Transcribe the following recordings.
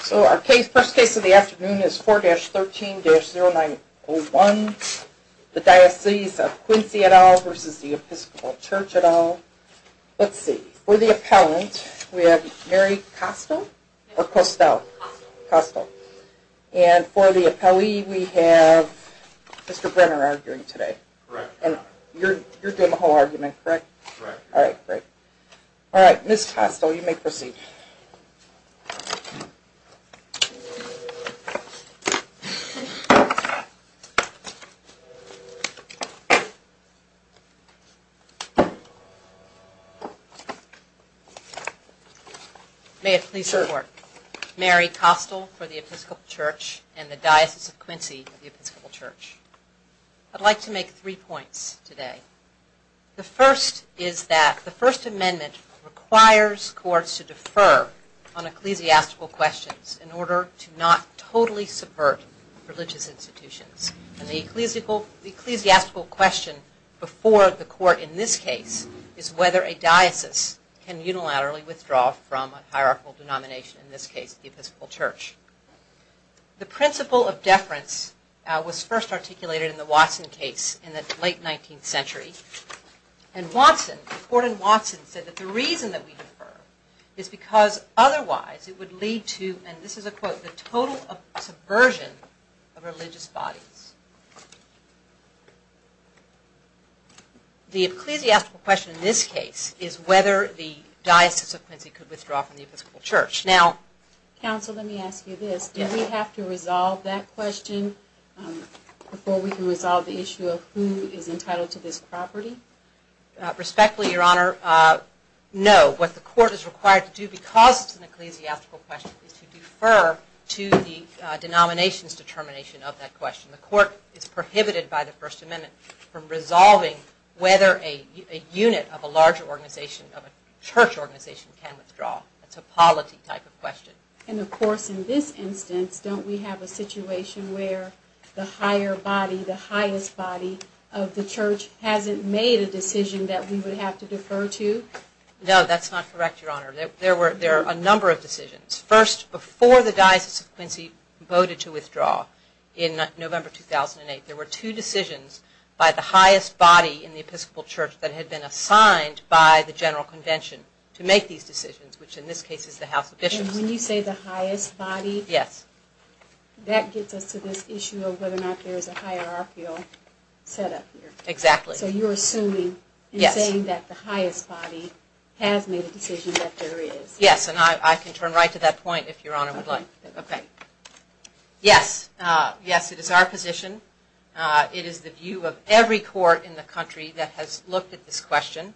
So our first case of the afternoon is 4-13-0901, The Diocese of Quincy et al. v. The Episcopal Church et al. Let's see, for the appellant, we have Mary Costell. And for the appellee, we have Mr. Brenner arguing today. You're doing the whole argument, correct? Right. All right. Great. All right. Ms. Costell, you may proceed. May it please the Court, Mary Costell for the Episcopal Church and the Diocese of Quincy of the Episcopal Church, I'd like to make three points today. The first is that the First Amendment requires courts to defer on ecclesiastical questions in order to not totally subvert religious institutions. And the ecclesiastical question before the court in this case is whether a diocese can unilaterally withdraw from a hierarchical denomination, in this case the Episcopal Church. The principle of deference was first articulated in the Watson case in the late 19th century. And Watson, Gordon Watson, said that the reason that we defer is because otherwise it would lead to, and this is a quote, the total subversion of religious bodies. The ecclesiastical question in this case is whether the Diocese of Quincy could withdraw from the Episcopal Church. Now… Counsel, let me ask you this. Do we have to resolve that question before we can resolve the issue of who is entitled to this property? Respectfully, Your Honor, no. What the court is required to do because it's an ecclesiastical question is to defer to the denomination's determination of that question. The court is prohibited by the First Amendment from resolving whether a unit of a larger organization, of a church organization, can withdraw. It's a polity type of question. And of course, in this instance, don't we have a situation where the higher body, the highest body of the church hasn't made a decision that we would have to defer to? No, that's not correct, Your Honor. There were a number of decisions. First, before the Diocese of Quincy voted to withdraw in November 2008, there were two decisions by the highest body in the Episcopal Church that had been assigned by the General Convention to make these decisions, which in this case is the House of Bishops. And when you say the highest body, that gets us to this issue of whether or not there is a hierarchical set up here. Exactly. So you're assuming and saying that the highest body has made a decision that there is. Yes, and I can turn right to that point if Your Honor would like. Okay. Yes, yes, it is our position, it is the view of every court in the country that has looked at this question,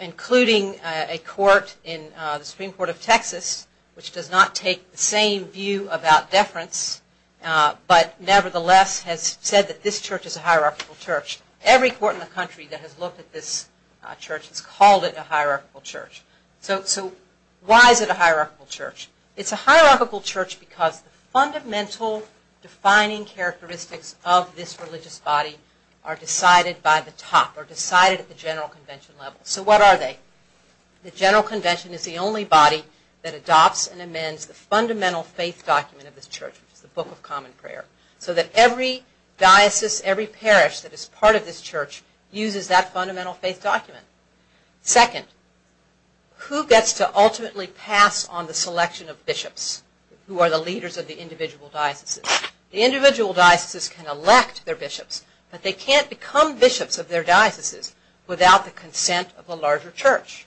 including a court in the Supreme Court of Texas, which does not take the same view about deference, but nevertheless has said that this church is a hierarchical church. Every court in the country that has looked at this church has called it a hierarchical church. So why is it a hierarchical church? It's a hierarchical church because the fundamental defining characteristics of this religious body are decided by the top, are decided at the General Convention level. So what are they? The General Convention is the only body that adopts and amends the fundamental faith document of this church, which is the Book of Common Prayer, so that every diocese, every parish that is part of this church uses that fundamental faith document. Second, who gets to ultimately pass on the selection of bishops, who are the leaders of the individual dioceses? The individual dioceses can elect their bishops, but they can't become bishops of their dioceses without the consent of a larger church.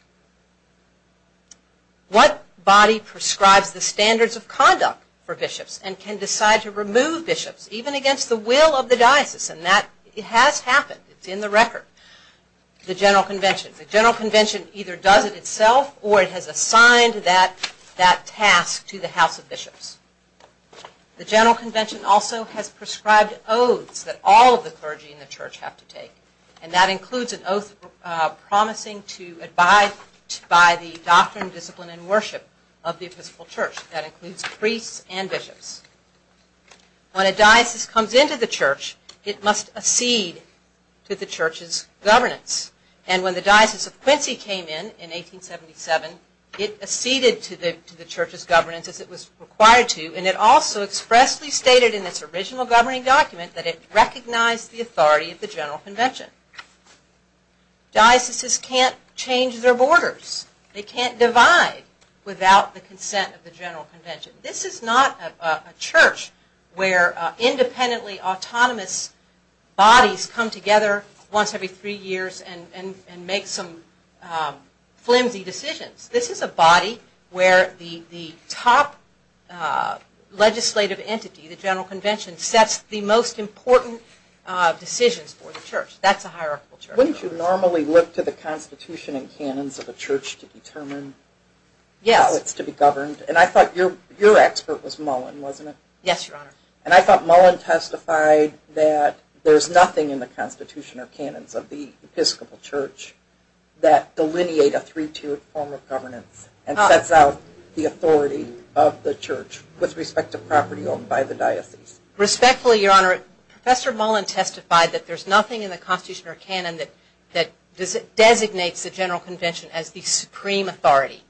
What body prescribes the standards of conduct for bishops and can decide to remove bishops, even against the will of the diocese? And that has happened, it's in the record. The General Convention. The General Convention either does it itself or it has assigned that task to the House of Bishops. The General Convention also has prescribed oaths that all of the clergy in the church have to take, and that includes an oath promising to abide by the doctrine, discipline, and worship of the Episcopal Church. That includes priests and bishops. When a diocese comes into the church, it must accede to the church's governance. And when the Diocese of Quincy came in, in 1877, it acceded to the church's governance as it was required to, and it also expressly stated in its original governing document that it recognized the authority of the General Convention. Dioceses can't change their borders, they can't divide without the consent of the General Convention. This is not a church where independently autonomous bodies come together once every three years and make some flimsy decisions. This is a body where the top legislative entity, the General Convention, sets the most important decisions for the church. That's a hierarchical church. Wouldn't you normally look to the Constitution and canons of a church to determine how it's to be governed? And I thought your expert was Mullen, wasn't it? Yes, Your Honor. And I thought Mullen testified that there's nothing in the Constitution or canons of the sets out the authority of the church with respect to property owned by the diocese. Respectfully, Your Honor, Professor Mullen testified that there's nothing in the Constitution or canon that designates the General Convention as the supreme authority,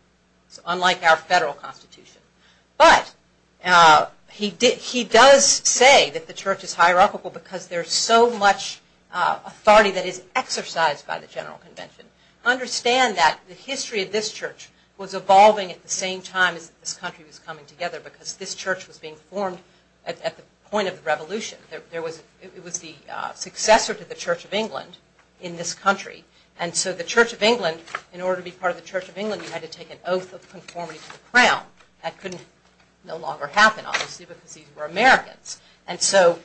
unlike our federal constitution. But he does say that the church is hierarchical because there's so much authority that is exercised by the General Convention. Understand that the history of this church was evolving at the same time as this country was coming together because this church was being formed at the point of the Revolution. It was the successor to the Church of England in this country. And so the Church of England, in order to be part of the Church of England, you had to take an oath of conformity to the crown. That couldn't no longer happen, obviously, because these were Americans. And so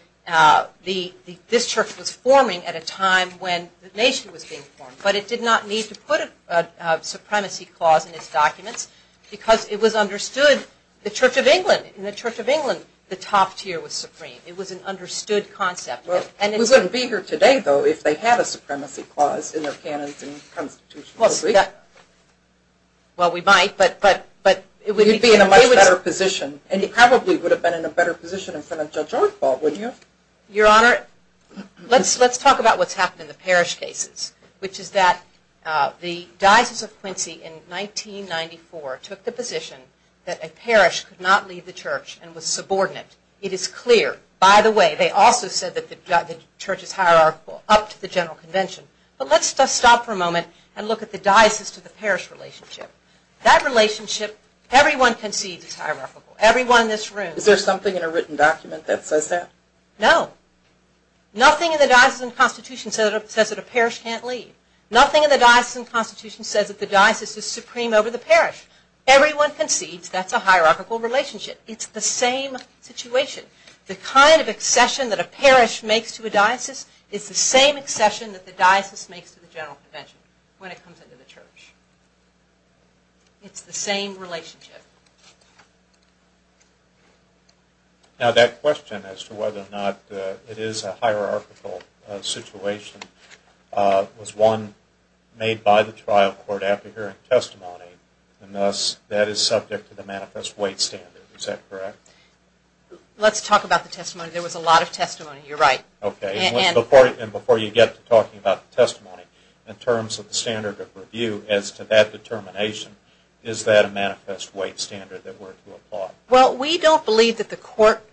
this church was forming at a time when the nation was being formed. But it did not need to put a supremacy clause in its documents because it was understood the Church of England. In the Church of England, the top tier was supreme. It was an understood concept. We wouldn't be here today, though, if they had a supremacy clause in their canons and constitutions, would we? Well, we might, but it would be in a much better position. And you probably would have been in a better position in front of Judge Archibald, wouldn't you? Your Honor, let's talk about what's happened in the parish cases, which is that the Diocese of Quincy in 1994 took the position that a parish could not leave the church and was subordinate. It is clear. By the way, they also said that the church is hierarchical up to the General Convention. But let's just stop for a moment and look at the diocese to the parish relationship. That relationship, everyone concedes it's hierarchical. Everyone in this room. Is there something in a written document that says that? No. Nothing in the Diocesan Constitution says that a parish can't leave. Nothing in the Diocesan Constitution says that the diocese is supreme over the parish. Everyone concedes that's a hierarchical relationship. It's the same situation. The kind of accession that a parish makes to a diocese is the same accession that the diocese makes to the General Convention when it comes into the church. It's the same relationship. Now that question as to whether or not it is a hierarchical situation was one made by the trial court after hearing testimony and thus that is subject to the manifest weight standard. Is that correct? Let's talk about the testimony. There was a lot of testimony. You're right. Okay. Before you get to talking about the testimony, in terms of the standard of review as to that determination, is that a manifest weight standard that we're to apply? Well we don't believe that the court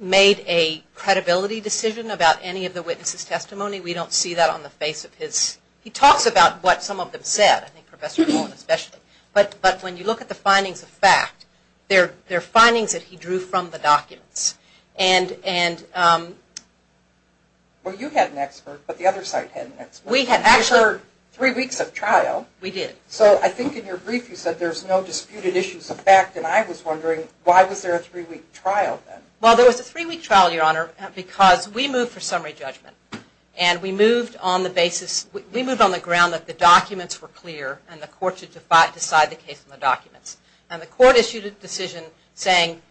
made a credibility decision about any of the witnesses' testimony. We don't see that on the face of his... He talks about what some of them said, I think Professor Nolan especially, but when you look at the findings of fact, they're findings that he drew from the documents. Well you had an expert, but the other side had an expert. We had actually... There were three weeks of trial. We did. So I think in your brief you said there's no disputed issues of fact and I was wondering why was there a three-week trial then? Well there was a three-week trial, Your Honor, because we moved for summary judgment and we moved on the basis, we moved on the ground that the documents were clear and the court should decide the case on the documents. And the court issued a decision saying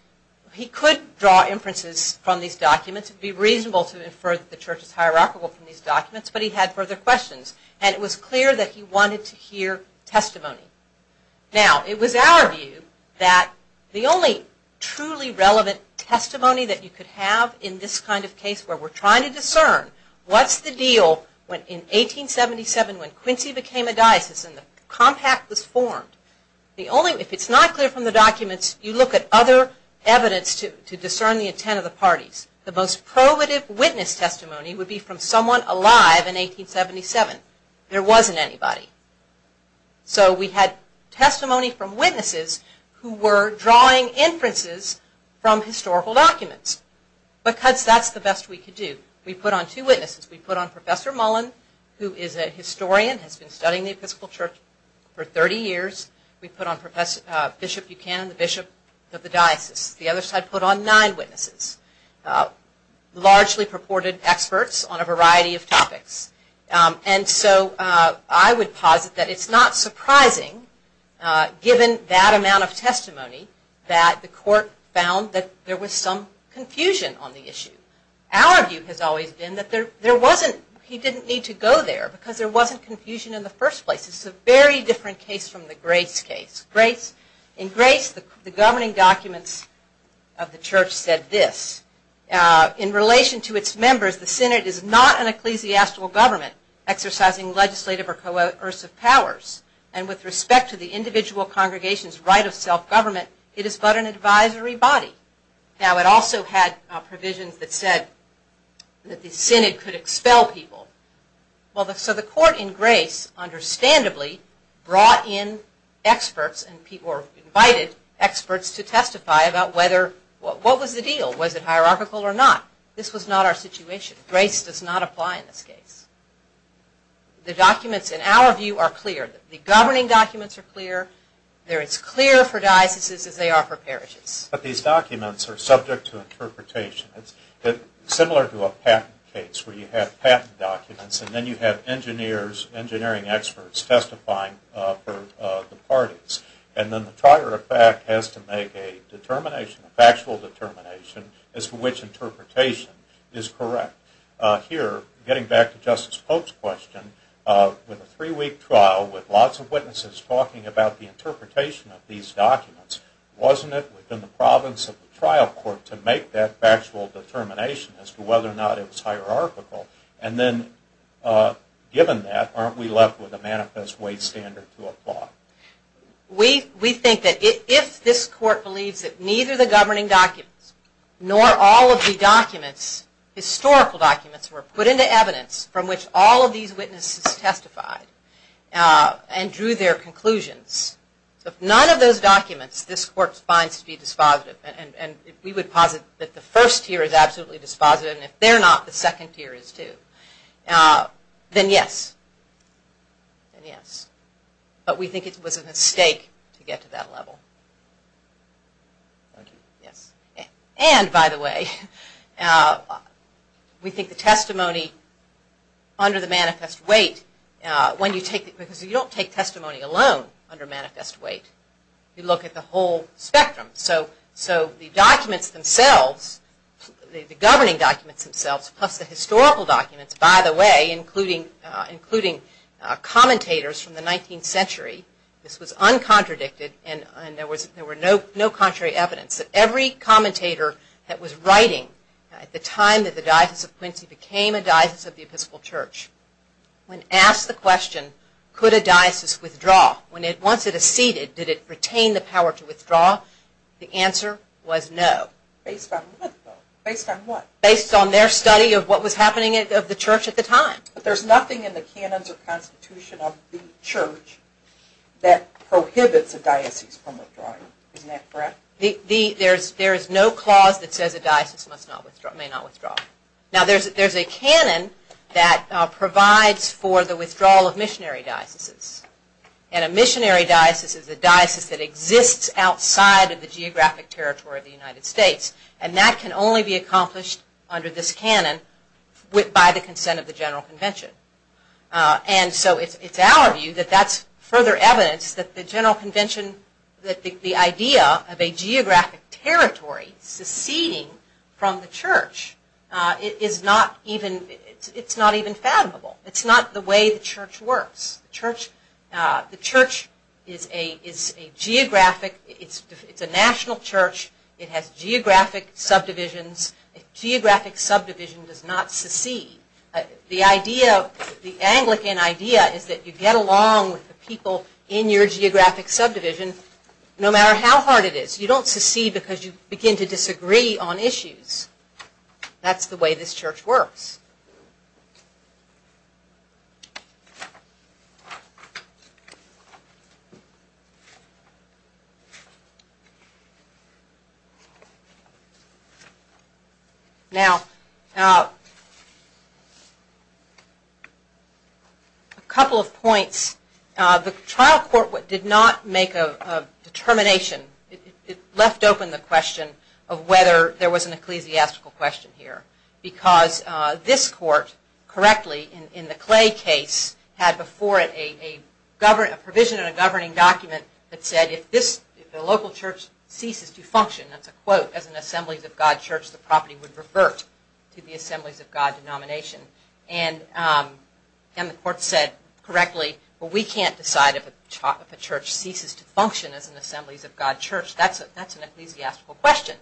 he could draw inferences from these documents, it would be reasonable to infer that the church is hierarchical from these documents, but he had further questions and it was clear that he wanted to hear testimony. Now it was our view that the only truly relevant testimony that you could have in this kind of case where we're trying to discern what's the deal when in 1877 when Quincy became a It's not clear from the documents, you look at other evidence to discern the intent of the parties. The most probative witness testimony would be from someone alive in 1877. There wasn't anybody. So we had testimony from witnesses who were drawing inferences from historical documents because that's the best we could do. We put on two witnesses. We put on Professor Mullen who is a historian, has been studying the Episcopal Church for Bishop Buchanan, the Bishop of the Diocese. The other side put on nine witnesses, largely purported experts on a variety of topics. And so I would posit that it's not surprising given that amount of testimony that the court found that there was some confusion on the issue. Our view has always been that there wasn't, he didn't need to go there because there wasn't confusion in the first place. This is a very different case from the Grace case. In Grace the governing documents of the church said this, in relation to its members the Synod is not an ecclesiastical government exercising legislative or coercive powers and with respect to the individual congregation's right of self-government it is but an advisory body. Now it also had provisions that said that the Synod could expel people. So the court in Grace understandably brought in experts or invited experts to testify about whether, what was the deal? Was it hierarchical or not? This was not our situation. Grace does not apply in this case. The documents in our view are clear. The governing documents are clear, they're as clear for dioceses as they are for parishes. But these documents are subject to interpretation. Similar to a patent case where you have patent documents and then you have engineers, engineering experts testifying for the parties. And then the trier of fact has to make a determination, a factual determination as to which interpretation is correct. Here, getting back to Justice Pope's question, with a three-week trial with lots of witnesses talking about the interpretation of these documents, wasn't it within the province of a factual determination as to whether or not it was hierarchical? And then given that, aren't we left with a manifest way standard to apply? We think that if this court believes that neither the governing documents nor all of the documents, historical documents, were put into evidence from which all of these witnesses testified and drew their conclusions, if none of those documents this court finds to be dispositive, and we would posit that the first tier is absolutely dispositive and if they're not, the second tier is too, then yes. But we think it was a mistake to get to that level. And by the way, we think the testimony under the manifest weight, because you don't take So the documents themselves, the governing documents themselves, plus the historical documents, by the way, including commentators from the 19th century, this was uncontradicted and there were no contrary evidence. Every commentator that was writing at the time that the Diocese of Quincy became a diocese of the Episcopal Church, when asked the question, could a diocese withdraw, once it acceded, did it retain the power to withdraw, the answer was no. Based on what though? Based on what? Based on their study of what was happening at the church at the time. But there's nothing in the canons or constitution of the church that prohibits a diocese from withdrawing. Isn't that correct? There is no clause that says a diocese may not withdraw. Now there's a canon that provides for the withdrawal of missionary dioceses. And a missionary diocese is a diocese that exists outside of the geographic territory of the United States. And that can only be accomplished under this canon by the consent of the general convention. And so it's our view that that's further evidence that the general convention, that the idea of a geographic territory seceding from the church, it is not even, it's not even fathomable. It's not the way the church works. The church is a geographic, it's a national church, it has geographic subdivisions, geographic subdivision does not secede. The idea, the Anglican idea is that you get along with the people in your geographic subdivision no matter how hard it is. You don't secede because you begin to disagree on issues. That's the way this church works. Now, a couple of points. The trial court did not make a determination, it left open the question of whether there was an ecclesiastical question here. Because this court, correctly, in the Clay case, had before it a provision in a governing document that said if the local church ceases to function, that's a quote, as an Assemblies of God church, the property would revert to the Assemblies of God denomination. And the court said correctly, we can't decide if a church ceases to function as an Assemblies of God church. That's an ecclesiastical question.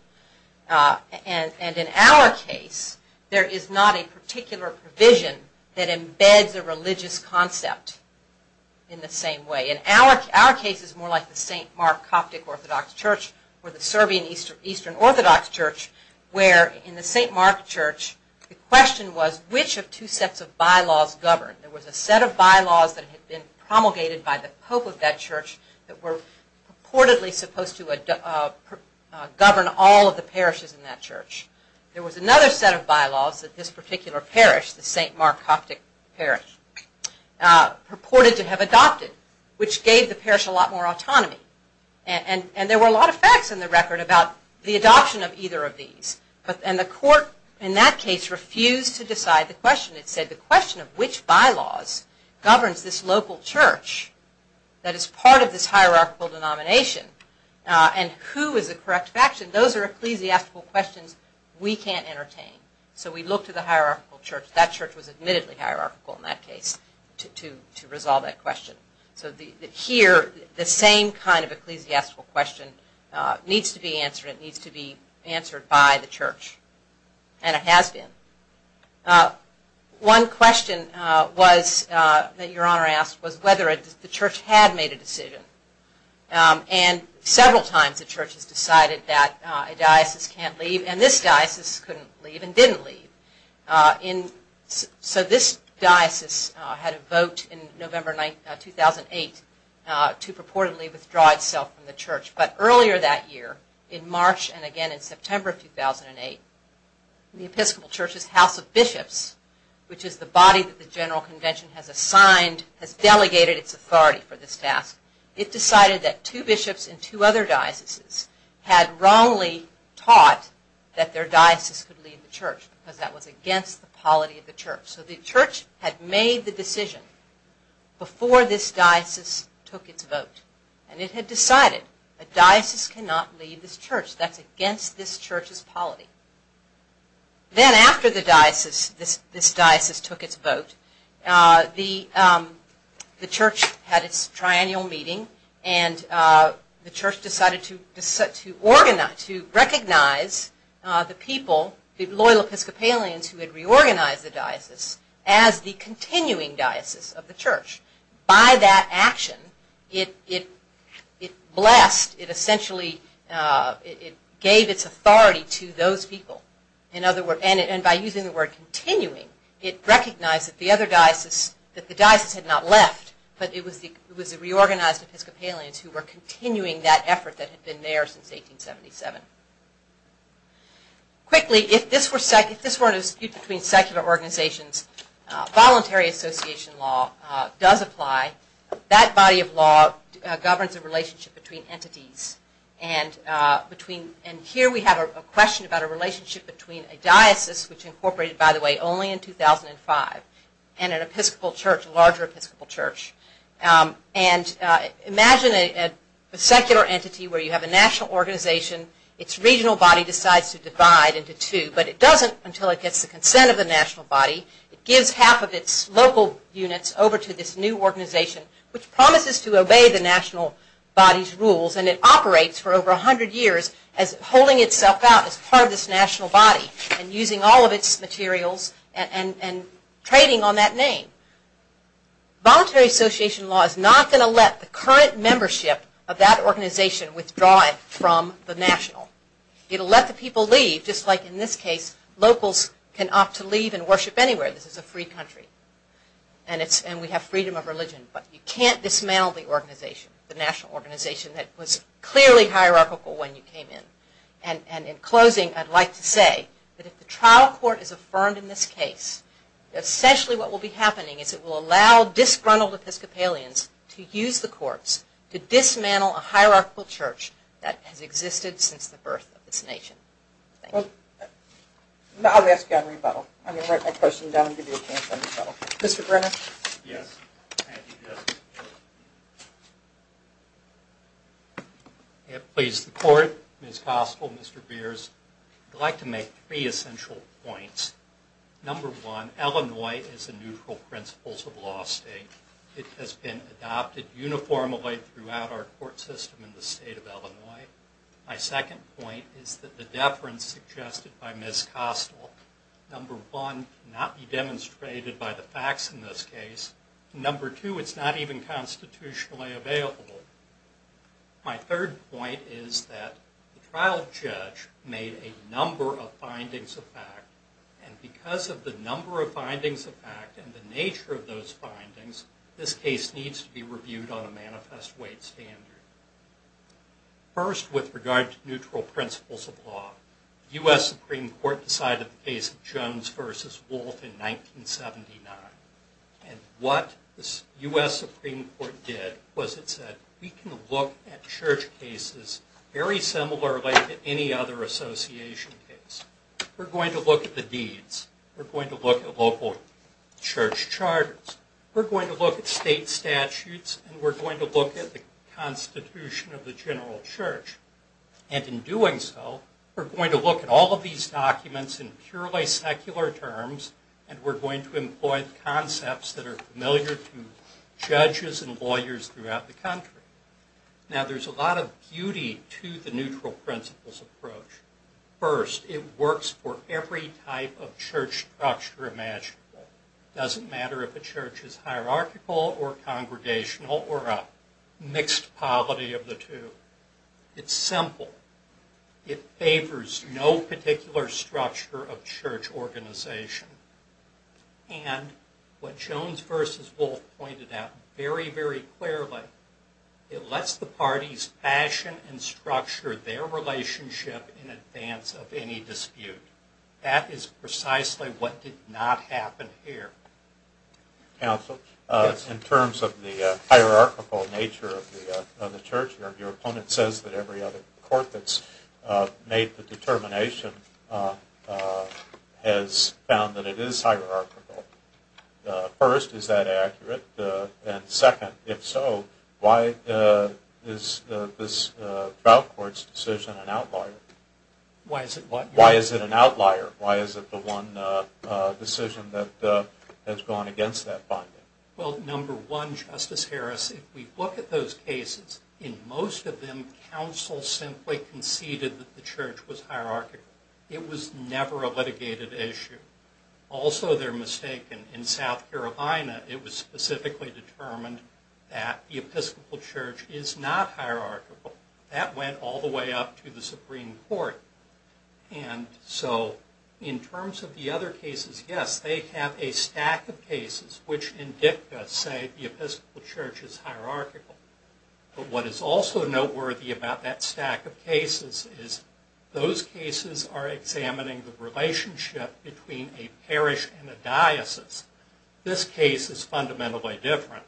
And in our case, there is not a particular provision that embeds a religious concept in the same way. In our case, it's more like the St. Mark Coptic Orthodox Church, or the Serbian Eastern Orthodox Church, where in the St. Mark Church, the question was which of two sets of bylaws govern. There was a set of bylaws that had been promulgated by the Pope of that church that were purportedly supposed to govern all of the parishes in that church. There was another set of bylaws that this particular parish, the St. Mark Coptic Parish, purported to have adopted, which gave the parish a lot more autonomy. And there were a lot of facts in the record about the adoption of either of these. And the court, in that case, refused to decide the question. It said the question of which bylaws governs this local church that is part of this hierarchical denomination, and who is the correct faction, those are ecclesiastical questions we can't entertain. So we look to the hierarchical church. That church was admittedly hierarchical in that case to resolve that question. So here, the same kind of ecclesiastical question needs to be answered. It needs to be answered by the church, and it has been. One question that Your Honor asked was whether the church had made a decision. And several times the church has decided that a diocese can't leave, and this diocese couldn't leave and didn't leave. So this diocese had a vote in November 2008 to purportedly withdraw itself from the church. But earlier that year, in March and again in September 2008, the Episcopal Church's House of Bishops, which is the body that the General Convention has assigned, has delegated its authority for this task, it decided that two bishops in two other dioceses had wrongly taught that their diocese could leave the church, because that was against the polity of the church. So the church had made the decision before this diocese took its vote, and it had decided that a diocese cannot leave this church. That's against this church's polity. Then after the diocese, this diocese took its vote, the church had its triennial meeting and the church decided to organize, to recognize the people, the loyal Episcopalians who had reorganized the diocese, as the continuing diocese of the church. By that action, it blessed, it essentially, it gave its authority to those people. In other words, and by using the word continuing, it recognized that the other diocese, that the diocese had not left, but it was the reorganized Episcopalians who were continuing that effort that had been there since 1877. Quickly, if this were a dispute between secular organizations, voluntary association law does apply. That body of law governs a relationship between entities, and here we have a question about a relationship between a diocese, which incorporated, by the way, only in 2005, and an Episcopal church, a larger Episcopal church. And imagine a secular entity where you have a national organization, its regional body decides to divide into two, but it doesn't until it gets the consent of the national body. It gives half of its local units over to this new organization, which promises to obey the national body's rules, and it operates for over a hundred years as holding itself out as part of this national body, and using all of its materials, and trading on that name. Voluntary association law is not going to let the current membership of that organization withdraw it from the national. It will let the people leave, just like in this case, locals can opt to leave and worship anywhere. This is a free country, and we have freedom of religion, but you can't dismantle the organization, the national organization that was clearly hierarchical when you came in. And in closing, I'd like to say that if the trial court is affirmed in this case, essentially what will be happening is it will allow disgruntled Episcopalians to use the courts to dismantle a hierarchical church that has existed since the birth of this nation. Thank you. I'll ask you on rebuttal. I'm going to write my question down and give you a chance on rebuttal. Mr. Brenner? Yes. Thank you, Justice. Please. The court, Ms. Gospel, Mr. Beers, I'd like to make three essential points. Number one, Illinois is a neutral principles of law state. It has been adopted uniformly throughout our court system in the state of Illinois. My second point is that the deference suggested by Ms. Gospel, number one, cannot be demonstrated by the facts in this case, and number two, it's not even constitutionally available. My third point is that the trial judge made a number of findings of fact, and because of the number of findings of fact and the nature of those findings, this case needs to be reviewed on a manifest weight standard. First with regard to neutral principles of law, U.S. Supreme Court decided the case of Jones versus Wolf in 1979, and what the U.S. Supreme Court did was it said, we can look at church cases very similarly to any other association case. We're going to look at the deeds. We're going to look at local church charters. We're going to look at state statutes, and we're going to look at the constitution of the general church, and in doing so, we're going to look at all of these documents in purely secular terms, and we're going to employ concepts that are familiar to judges and lawyers throughout the country. Now there's a lot of beauty to the neutral principles approach. First, it works for every type of church structure imaginable. Doesn't matter if a church is hierarchical or congregational or a mixed polity of the two. It's simple. It favors no particular structure of church organization, and what Jones versus Wolf pointed out very, very clearly. It lets the parties fashion and structure their relationship in advance of any dispute. That is precisely what did not happen here. Counsel? Yes. In terms of the hierarchical nature of the church, your opponent says that every other court that's made the determination has found that it is hierarchical. First, is that accurate? And second, if so, why is this trial court's decision an outlier? Why is it what? Why is it an outlier? Why is it the one decision that has gone against that finding? Well, number one, Justice Harris, if we look at those cases, in most of them, counsel simply conceded that the church was hierarchical. It was never a litigated issue. Also they're mistaken. In South Carolina, it was specifically determined that the Episcopal Church is not hierarchical. That went all the way up to the Supreme Court. And so, in terms of the other cases, yes, they have a stack of cases which in dicta say the Episcopal Church is hierarchical. But what is also noteworthy about that stack of cases is those cases are examining the This case is fundamentally different.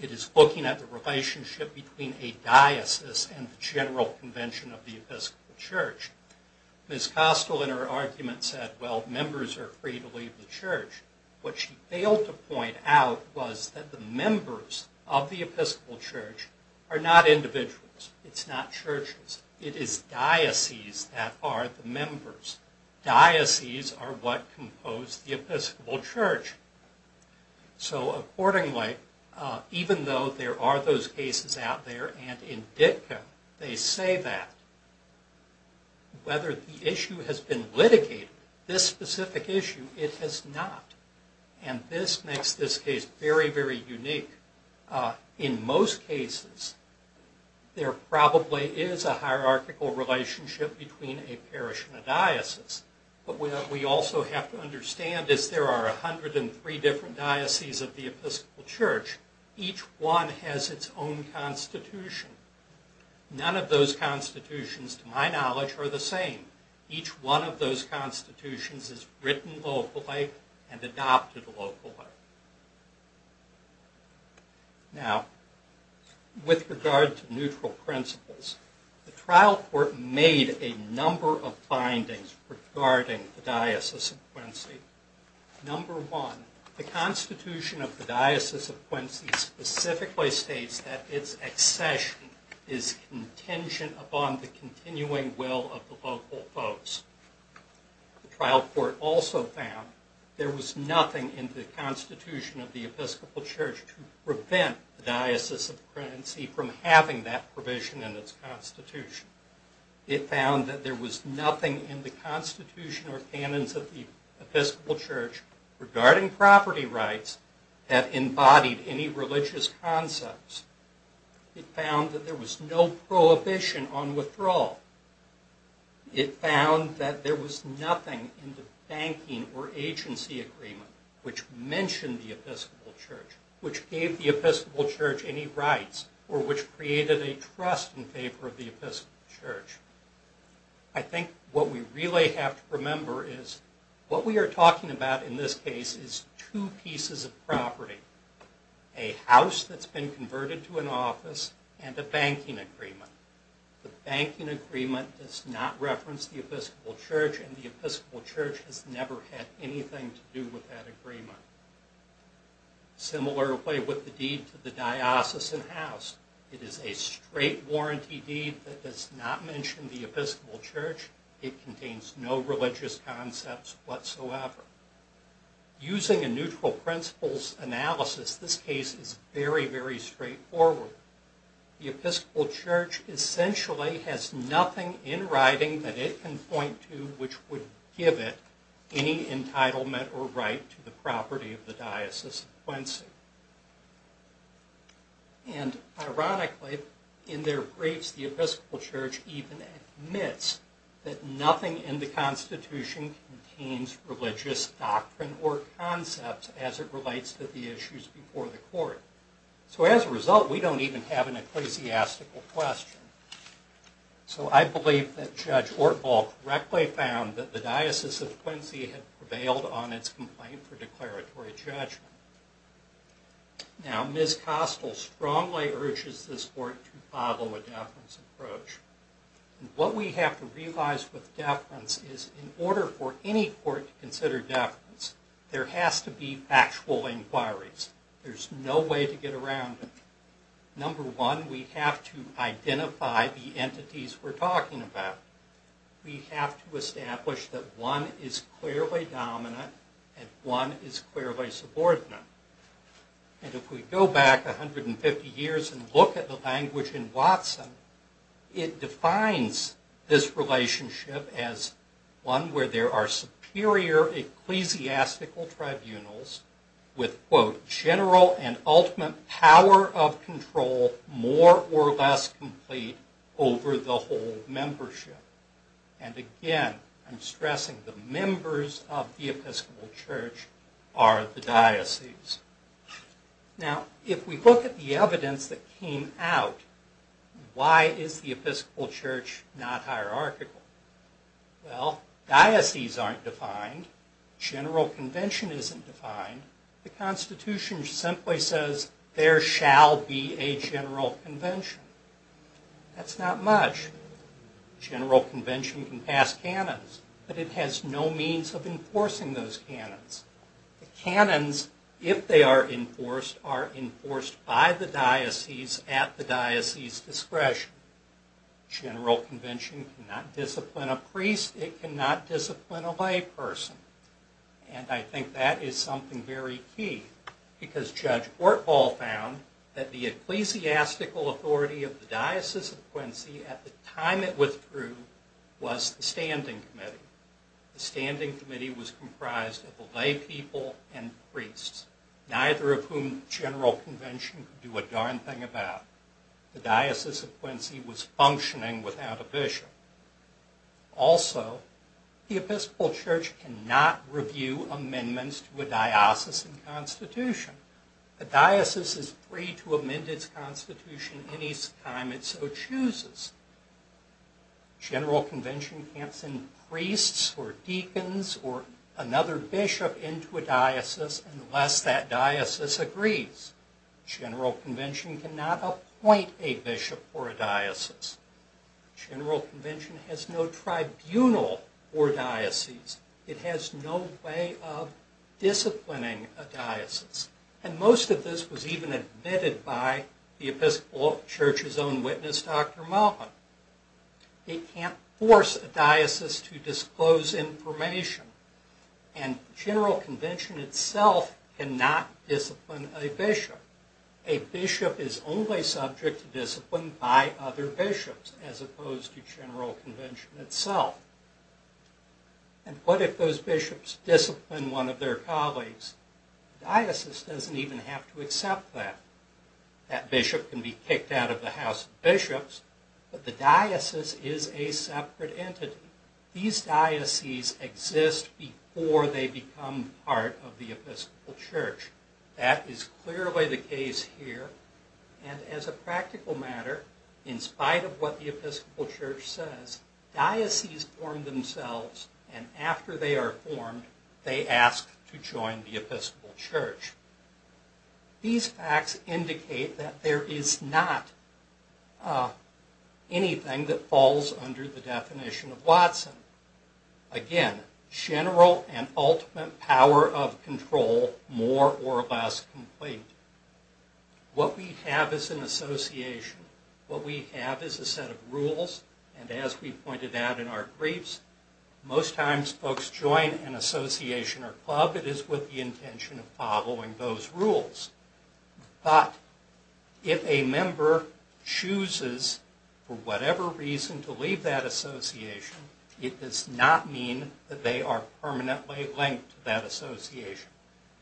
It is looking at the relationship between a diocese and the general convention of the Episcopal Church. Ms. Kostel in her argument said, well, members are free to leave the church. What she failed to point out was that the members of the Episcopal Church are not individuals. It's not churches. It is diocese that are the members. Diocese are what compose the Episcopal Church. So accordingly, even though there are those cases out there and in dicta they say that, whether the issue has been litigated, this specific issue, it has not. And this makes this case very, very unique. In most cases, there probably is a hierarchical relationship between a parish and a diocese. But what we also have to understand is there are 103 different dioceses of the Episcopal Church. Each one has its own constitution. None of those constitutions, to my knowledge, are the same. Each one of those constitutions is written locally and adopted locally. Now with regard to neutral principles, the trial court made a number of findings regarding the Diocese of Quincy. Number one, the Constitution of the Diocese of Quincy specifically states that its accession is contingent upon the continuing will of the local folks. The trial court also found there was nothing in the Constitution of the Episcopal Church to prevent the Diocese of Quincy from having that provision in its constitution. It found that there was nothing in the Constitution or canons of the Episcopal Church regarding property rights that embodied any religious concepts. It found that there was no prohibition on withdrawal. It found that there was nothing in the banking or agency agreement which mentioned the Episcopal Church, which gave the Episcopal Church any rights, or which created a trust in favor of the Episcopal Church. I think what we really have to remember is what we are talking about in this case is two pieces of property, a house that has been converted to an office, and a banking agreement. The banking agreement does not reference the Episcopal Church, and the Episcopal Church has never had anything to do with that agreement. Similarly with the deed to the diocesan house, it is a straight warranty deed that does not mention the Episcopal Church. It contains no religious concepts whatsoever. Using a neutral principles analysis, this case is very, very straightforward. The Episcopal Church essentially has nothing in writing that it can point to which would give it any entitlement or right to the property of the diocese of Quincy. And ironically, in their briefs the Episcopal Church even admits that nothing in the Constitution contains religious doctrine or concepts as it relates to the issues before the court. So as a result, we don't even have an ecclesiastical question. So I believe that Judge Ortval correctly found that the diocese of Quincy had prevailed on its complaint for declaratory judgment. Now Ms. Kostel strongly urges this court to follow a deference approach. What we have to realize with deference is in order for any court to consider deference, there has to be factual inquiries. There's no way to get around it. Number one, we have to identify the entities we're talking about. We have to establish that one is clearly dominant and one is clearly subordinate. And if we go back 150 years and look at the language in Watson, it defines this relationship as one where there are superior ecclesiastical tribunals with, quote, general and ultimate power of control more or less complete over the whole membership. And again, I'm stressing the members of the Episcopal Church are the diocese. Now if we look at the evidence that came out, why is the Episcopal Church not hierarchical? Well, diocese aren't defined, general convention isn't defined, the Constitution simply says there shall be a general convention. That's not much. General convention can pass canons, but it has no means of enforcing those canons. The canons, if they are enforced, are enforced by the diocese at the diocese's discretion. General convention cannot discipline a priest, it cannot discipline a layperson. And I think that is something very key because Judge Ortval found that the ecclesiastical authority of the Diocese of Quincy at the time it withdrew was the standing committee. The standing committee was comprised of the laypeople and priests, neither of whom general convention could do a darn thing about. The Diocese of Quincy was functioning without a bishop. Also, the Episcopal Church cannot review amendments to a diocesan constitution. A diocese is free to amend its constitution any time it so chooses. General convention can't send priests or deacons or another bishop into a diocese unless that diocese agrees. General convention cannot appoint a bishop for a diocese. General convention has no tribunal for dioceses. It has no way of disciplining a diocese. And most of this was even admitted by the Episcopal Church's own witness, Dr. Malvin. It can't force a diocese to disclose information. And general convention itself cannot discipline a bishop. A bishop is only subject to discipline by other bishops as opposed to general convention itself. And what if those bishops discipline one of their colleagues? The diocese doesn't even have to accept that. That bishop can be kicked out of the House of Bishops, but the diocese is a separate entity. These dioceses exist before they become part of the Episcopal Church. That is clearly the case here. And as a practical matter, in spite of what the Episcopal Church says, dioceses form themselves and after they are formed, they ask to join the Episcopal Church. These facts indicate that there is not anything that falls under the definition of Watson. Again, general and ultimate power of control, more or less complete. What we have is an association. What we have is a set of rules. And as we pointed out in our briefs, most times folks join an association or club. But if a member chooses, for whatever reason, to leave that association, it does not mean that they are permanently linked to that association.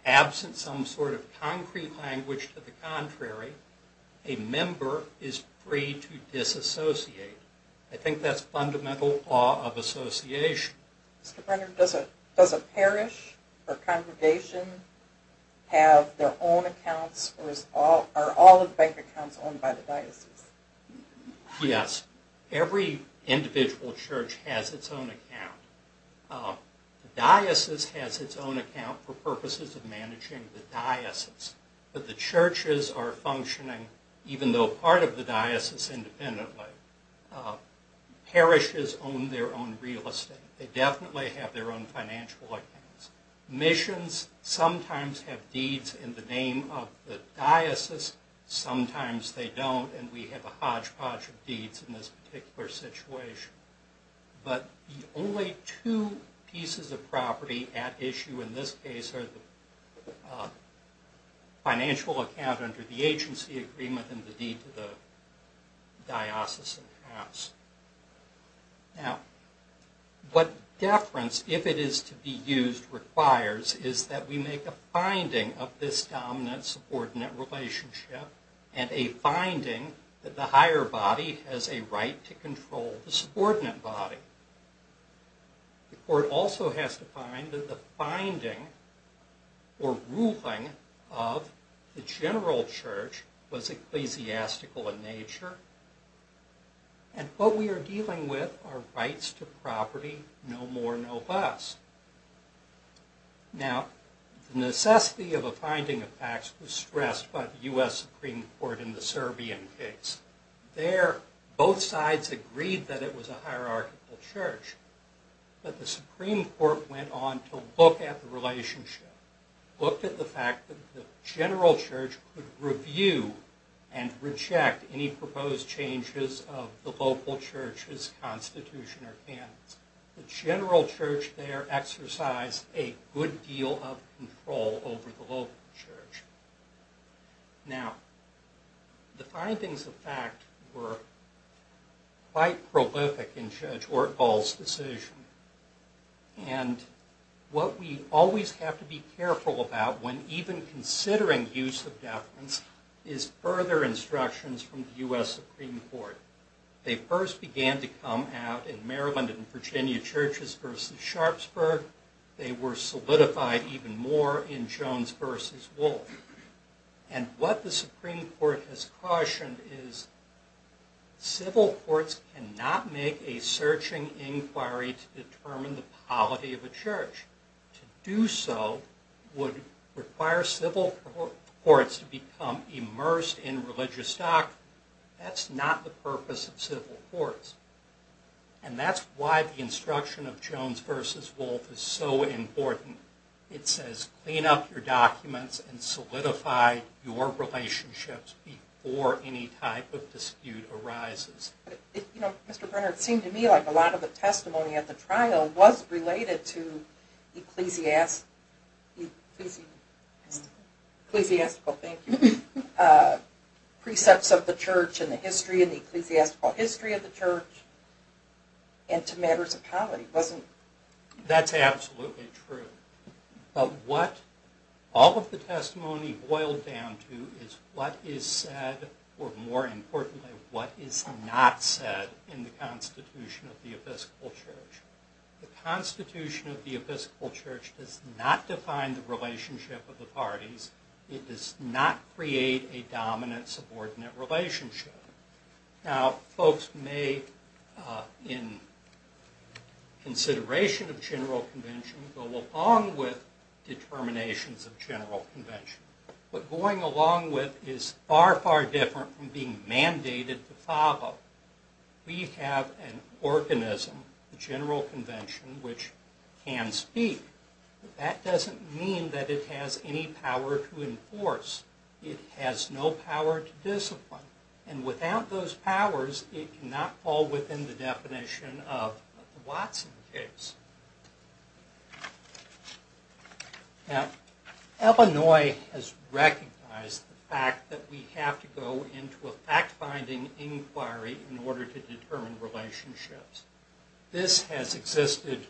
Absent some sort of concrete language to the contrary, a member is free to disassociate. I think that's fundamental law of association. Does a parish or congregation have their own accounts or are all of the bank accounts owned by the diocese? Yes. Every individual church has its own account. The diocese has its own account for purposes of managing the diocese. But the churches are functioning, even though part of the diocese independently. Parishes own their own real estate. They definitely have their own financial accounts. Missions sometimes have deeds in the name of the diocese. Sometimes they don't, and we have a hodgepodge of deeds in this particular situation. But the only two pieces of property at issue in this case are the financial account under the agency agreement and the deed to the diocese accounts. Now, what deference, if it is to be used, requires is that we make a finding of this dominant subordinate relationship and a finding that the higher body has a right to control the subordinate body. The court also has to find that the finding or ruling of the general church was ecclesiastical in nature, and what we are dealing with are rights to property, no more, no less. Now, the necessity of a finding of facts was stressed by the U.S. Supreme Court in the Serbian case. There, both sides agreed that it was a hierarchical church, but the Supreme Court went on to look at the relationship, looked at the fact that the general church could review and reject any proposed changes of the local church's constitution or candidates. The general church there exercised a good deal of control over the local church. Now, the findings of fact were quite prolific in Judge Ortval's decision, and what we always have to be careful about when even considering use of deference is further instructions from the U.S. Supreme Court. They first began to come out in Maryland and Virginia churches versus Sharpsburg. They were solidified even more in Jones versus Wolfe. And what the Supreme Court has cautioned is civil courts cannot make a searching inquiry to determine the polity of a church. To do so would require civil courts to become immersed in religious doctrine. That's not the purpose of civil courts. And that's why the instruction of Jones versus Wolfe is so important. It says, clean up your documents and solidify your relationships before any type of dispute arises. You know, Mr. Brenner, it seemed to me like a lot of the testimony at the trial was related to ecclesiastical, thank you, precepts of the church and the history and the ecclesiastical history of the church and to matters of comedy, wasn't it? That's absolutely true. But what all of the testimony boiled down to is what is said, or more importantly, what is not said in the Constitution of the Episcopal Church. The Constitution of the Episcopal Church does not define the relationship of the parties. It does not create a dominant-subordinate relationship. Now, folks may, in consideration of general convention, go along with determinations of general convention. But going along with is far, far different from being mandated to follow. We have an organism, the general convention, which can speak. But that doesn't mean that it has any power to enforce. It has no power to discipline. And without those powers, it cannot fall within the definition of the Watson case. Now, Illinois has recognized the fact that we have to go into a fact-finding inquiry in order to determine relationships. This has existed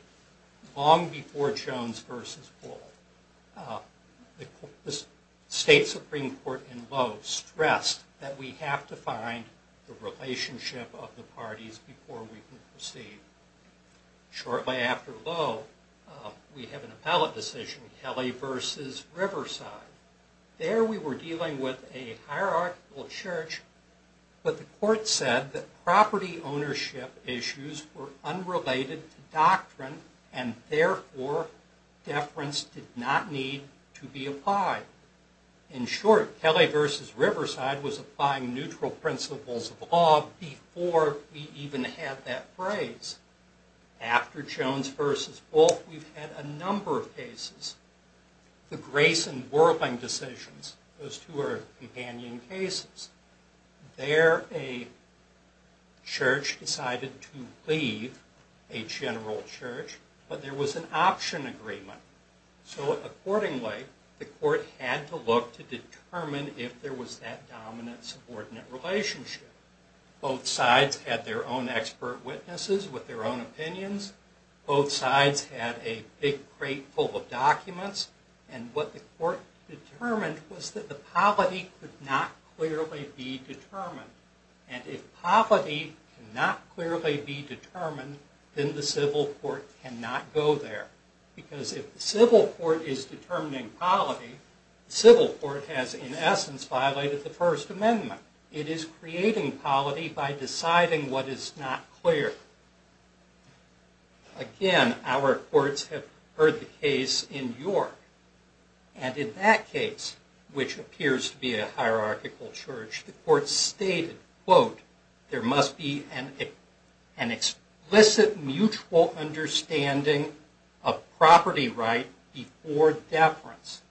long before Jones v. Bull. The state Supreme Court in Lowe stressed that we have to find the relationship of the parties before we can proceed. Shortly after Lowe, we have an appellate decision, Kelly v. Riverside. There we were dealing with a hierarchical church, but the court said that property ownership issues were unrelated to doctrine, and therefore, deference did not need to be applied. In short, Kelly v. Riverside was applying neutral principles of law before we even had that phrase. After Jones v. Bull, we've had a number of cases. The Grayson-Whirling decisions, those two are companion cases. There, a church decided to leave a general church, but there was an option agreement. So accordingly, the court had to look to determine if there was that dominant-subordinate relationship. Both sides had their own expert witnesses with their own opinions. Both sides had a big crate full of documents. And what the court determined was that the polity could not clearly be determined. And if polity cannot clearly be determined, then the civil court cannot go there. Because if the civil court is determining polity, the civil court has, in essence, violated the First Amendment. It is creating polity by deciding what is not clear. Again, our courts have heard the case in York. And in that case, which appears to be a hierarchical church, the court stated, quote, there must be an explicit mutual understanding of property right before deference.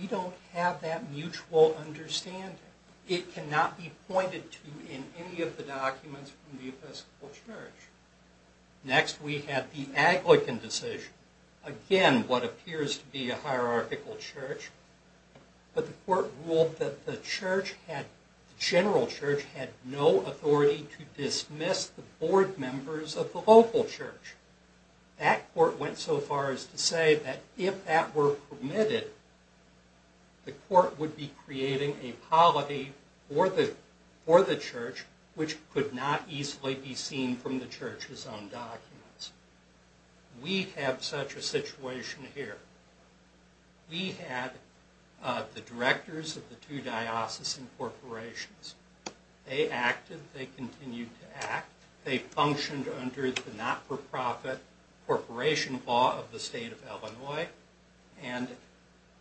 We don't have that mutual understanding. It cannot be pointed to in any of the documents from the Episcopal Church. Next, we have the Aglican decision. Again, what appears to be a hierarchical church. But the court ruled that the church had, the general church, had no authority to dismiss the board members of the local church. That court went so far as to say that if that were permitted, the court would be creating a polity for the church, which could not easily be seen from the church's own documents. We have such a situation here. We had the directors of the two diocesan corporations. They acted. They continued to act. They functioned under the not-for-profit corporation law of the state of Illinois. And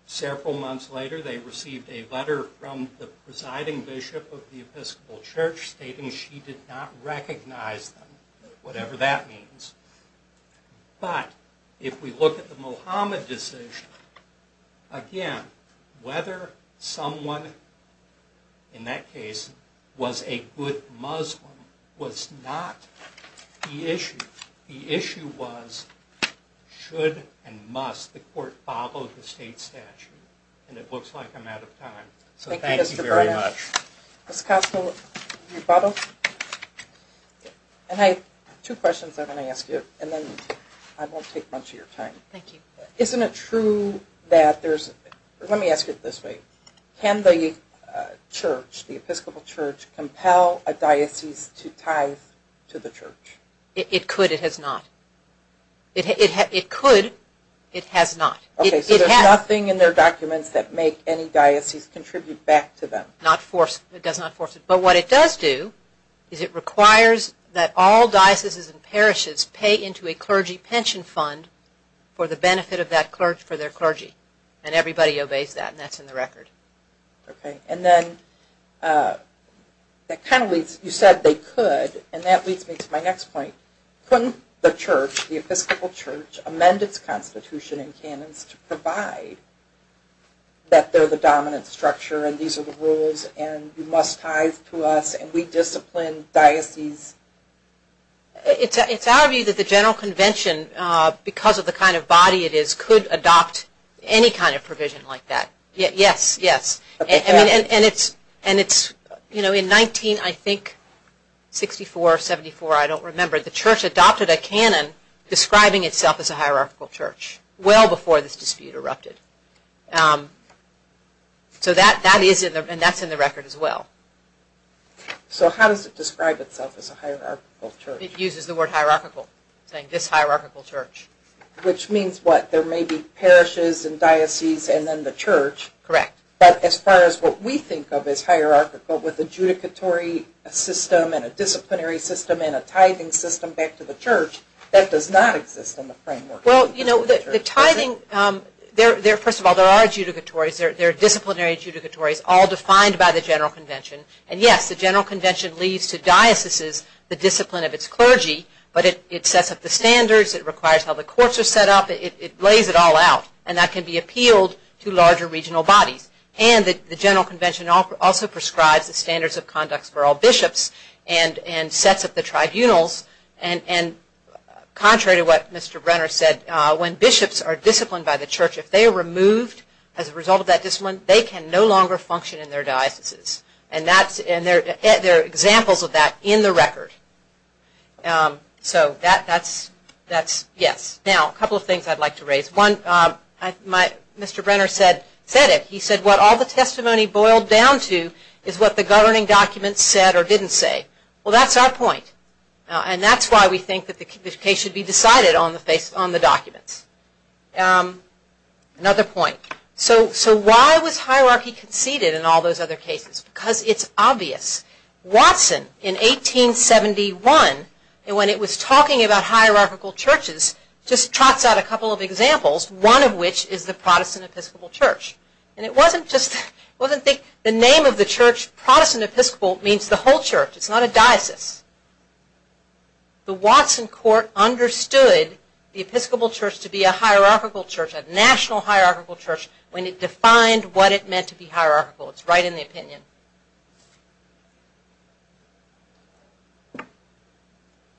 several months later, they received a letter from the presiding bishop of the Episcopal Church stating she did not recognize them, whatever that means. But if we look at the Mohammed decision, again, whether someone, in that case, was a good Muslim was not the issue. The issue was should and must the court follow the state statute. And it looks like I'm out of time. So thank you very much. Thank you, Mr. Bryan. Ms. Kostel, rebuttal? And I have two questions I'm going to ask you, and then I won't take much of your time. Thank you. Isn't it true that there's, let me ask it this way. Can the church, the Episcopal Church, compel a diocese to tithe to the church? It could. It has not. It could. It has not. Okay. So there's nothing in their documents that make any diocese contribute back to them. It does not force it. But what it does do is it requires that all dioceses and parishes pay into a clergy pension fund for the benefit of that clergy, for their clergy. And everybody obeys that, and that's in the record. Okay. And then that kind of leads, you said they could, and that leads me to my next point. Couldn't the church, the Episcopal Church, amend its constitution and canons to provide that they're the dominant structure, and these are the rules, and you must tithe to us, and we discipline dioceses? It's our view that the general convention, because of the kind of body it is, could adopt any kind of provision like that. Yes, yes. And it's, you know, in 19, I think, 64 or 74, I don't remember, the church adopted a canon describing itself as a hierarchical church well before this dispute erupted. So that is in the, and that's in the record as well. So how does it describe itself as a hierarchical church? It uses the word hierarchical, saying this hierarchical church. Which means what? There may be parishes and dioceses and then the church. Correct. But as far as what we think of as hierarchical with a judicatory system and a disciplinary system and a tithing system back to the church, that does not exist in the framework. Well, you know, the tithing, first of all, there are judicatories, there are disciplinary judicatories, all defined by the general convention. And yes, the general convention leads to dioceses, the discipline of its clergy, but it sets up the standards, it requires how the courts are set up, it lays it all out. And that can be appealed to larger regional bodies. And the general convention also prescribes the standards of conduct for all bishops and sets up the tribunals. And contrary to what Mr. Brenner said, when bishops are disciplined by the church, if they are removed as a result of that discipline, they can no longer function in their dioceses. And that's, and there are examples of that in the record. So that's, yes. Now, a couple of things I'd like to raise. One, Mr. Brenner said it, he said what all the testimony boiled down to is what the governing documents said or didn't say. Well, that's our point. And that's why we think that the case should be decided on the documents. Another point. So why was hierarchy conceded in all those other cases? Because it's obvious. Watson, in 1871, when it was talking about hierarchical churches, just trots out a couple of examples, one of which is the Protestant Episcopal Church. And it wasn't just, it wasn't the name of the church, Protestant Episcopal, means the whole church. It's not a diocese. The Watson court understood the Episcopal Church to be a hierarchical church, a national hierarchical church, when it defined what it meant to be hierarchical. It's right in the opinion.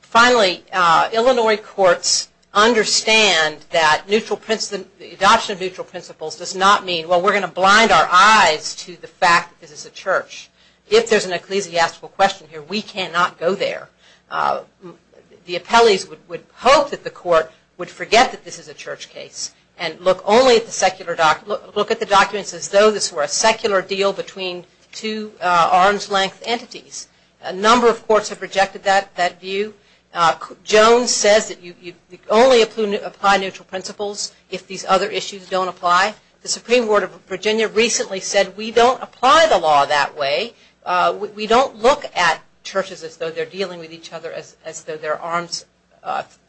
Finally, Illinois courts understand that adoption of neutral principles does not mean, well, we're going to blind our eyes to the fact that this is a church. If there's an ecclesiastical question here, we cannot go there. The appellees would hope that the court would forget that this is a church case and look at the documents as though this were a secular deal between two arm's length entities. A number of courts have rejected that view. Jones says that you only apply neutral principles if these other issues don't apply. The Supreme Court of Virginia recently said we don't apply the law that way. We don't look at churches as though they're dealing with each other as though they're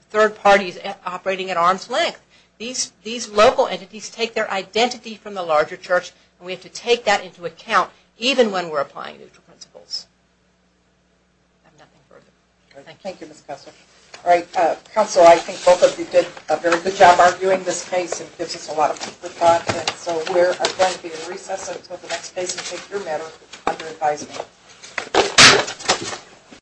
third parties operating at arm's length. These local entities take their identity from the larger church, and we have to take that into account even when we're applying neutral principles. I have nothing further. Thank you. Thank you, Ms. Kessler. All right, counsel, I think both of you did a very good job arguing this case. It gives us a lot of paper time, and so we're going to be in recess until the next case and take your matter under advisement.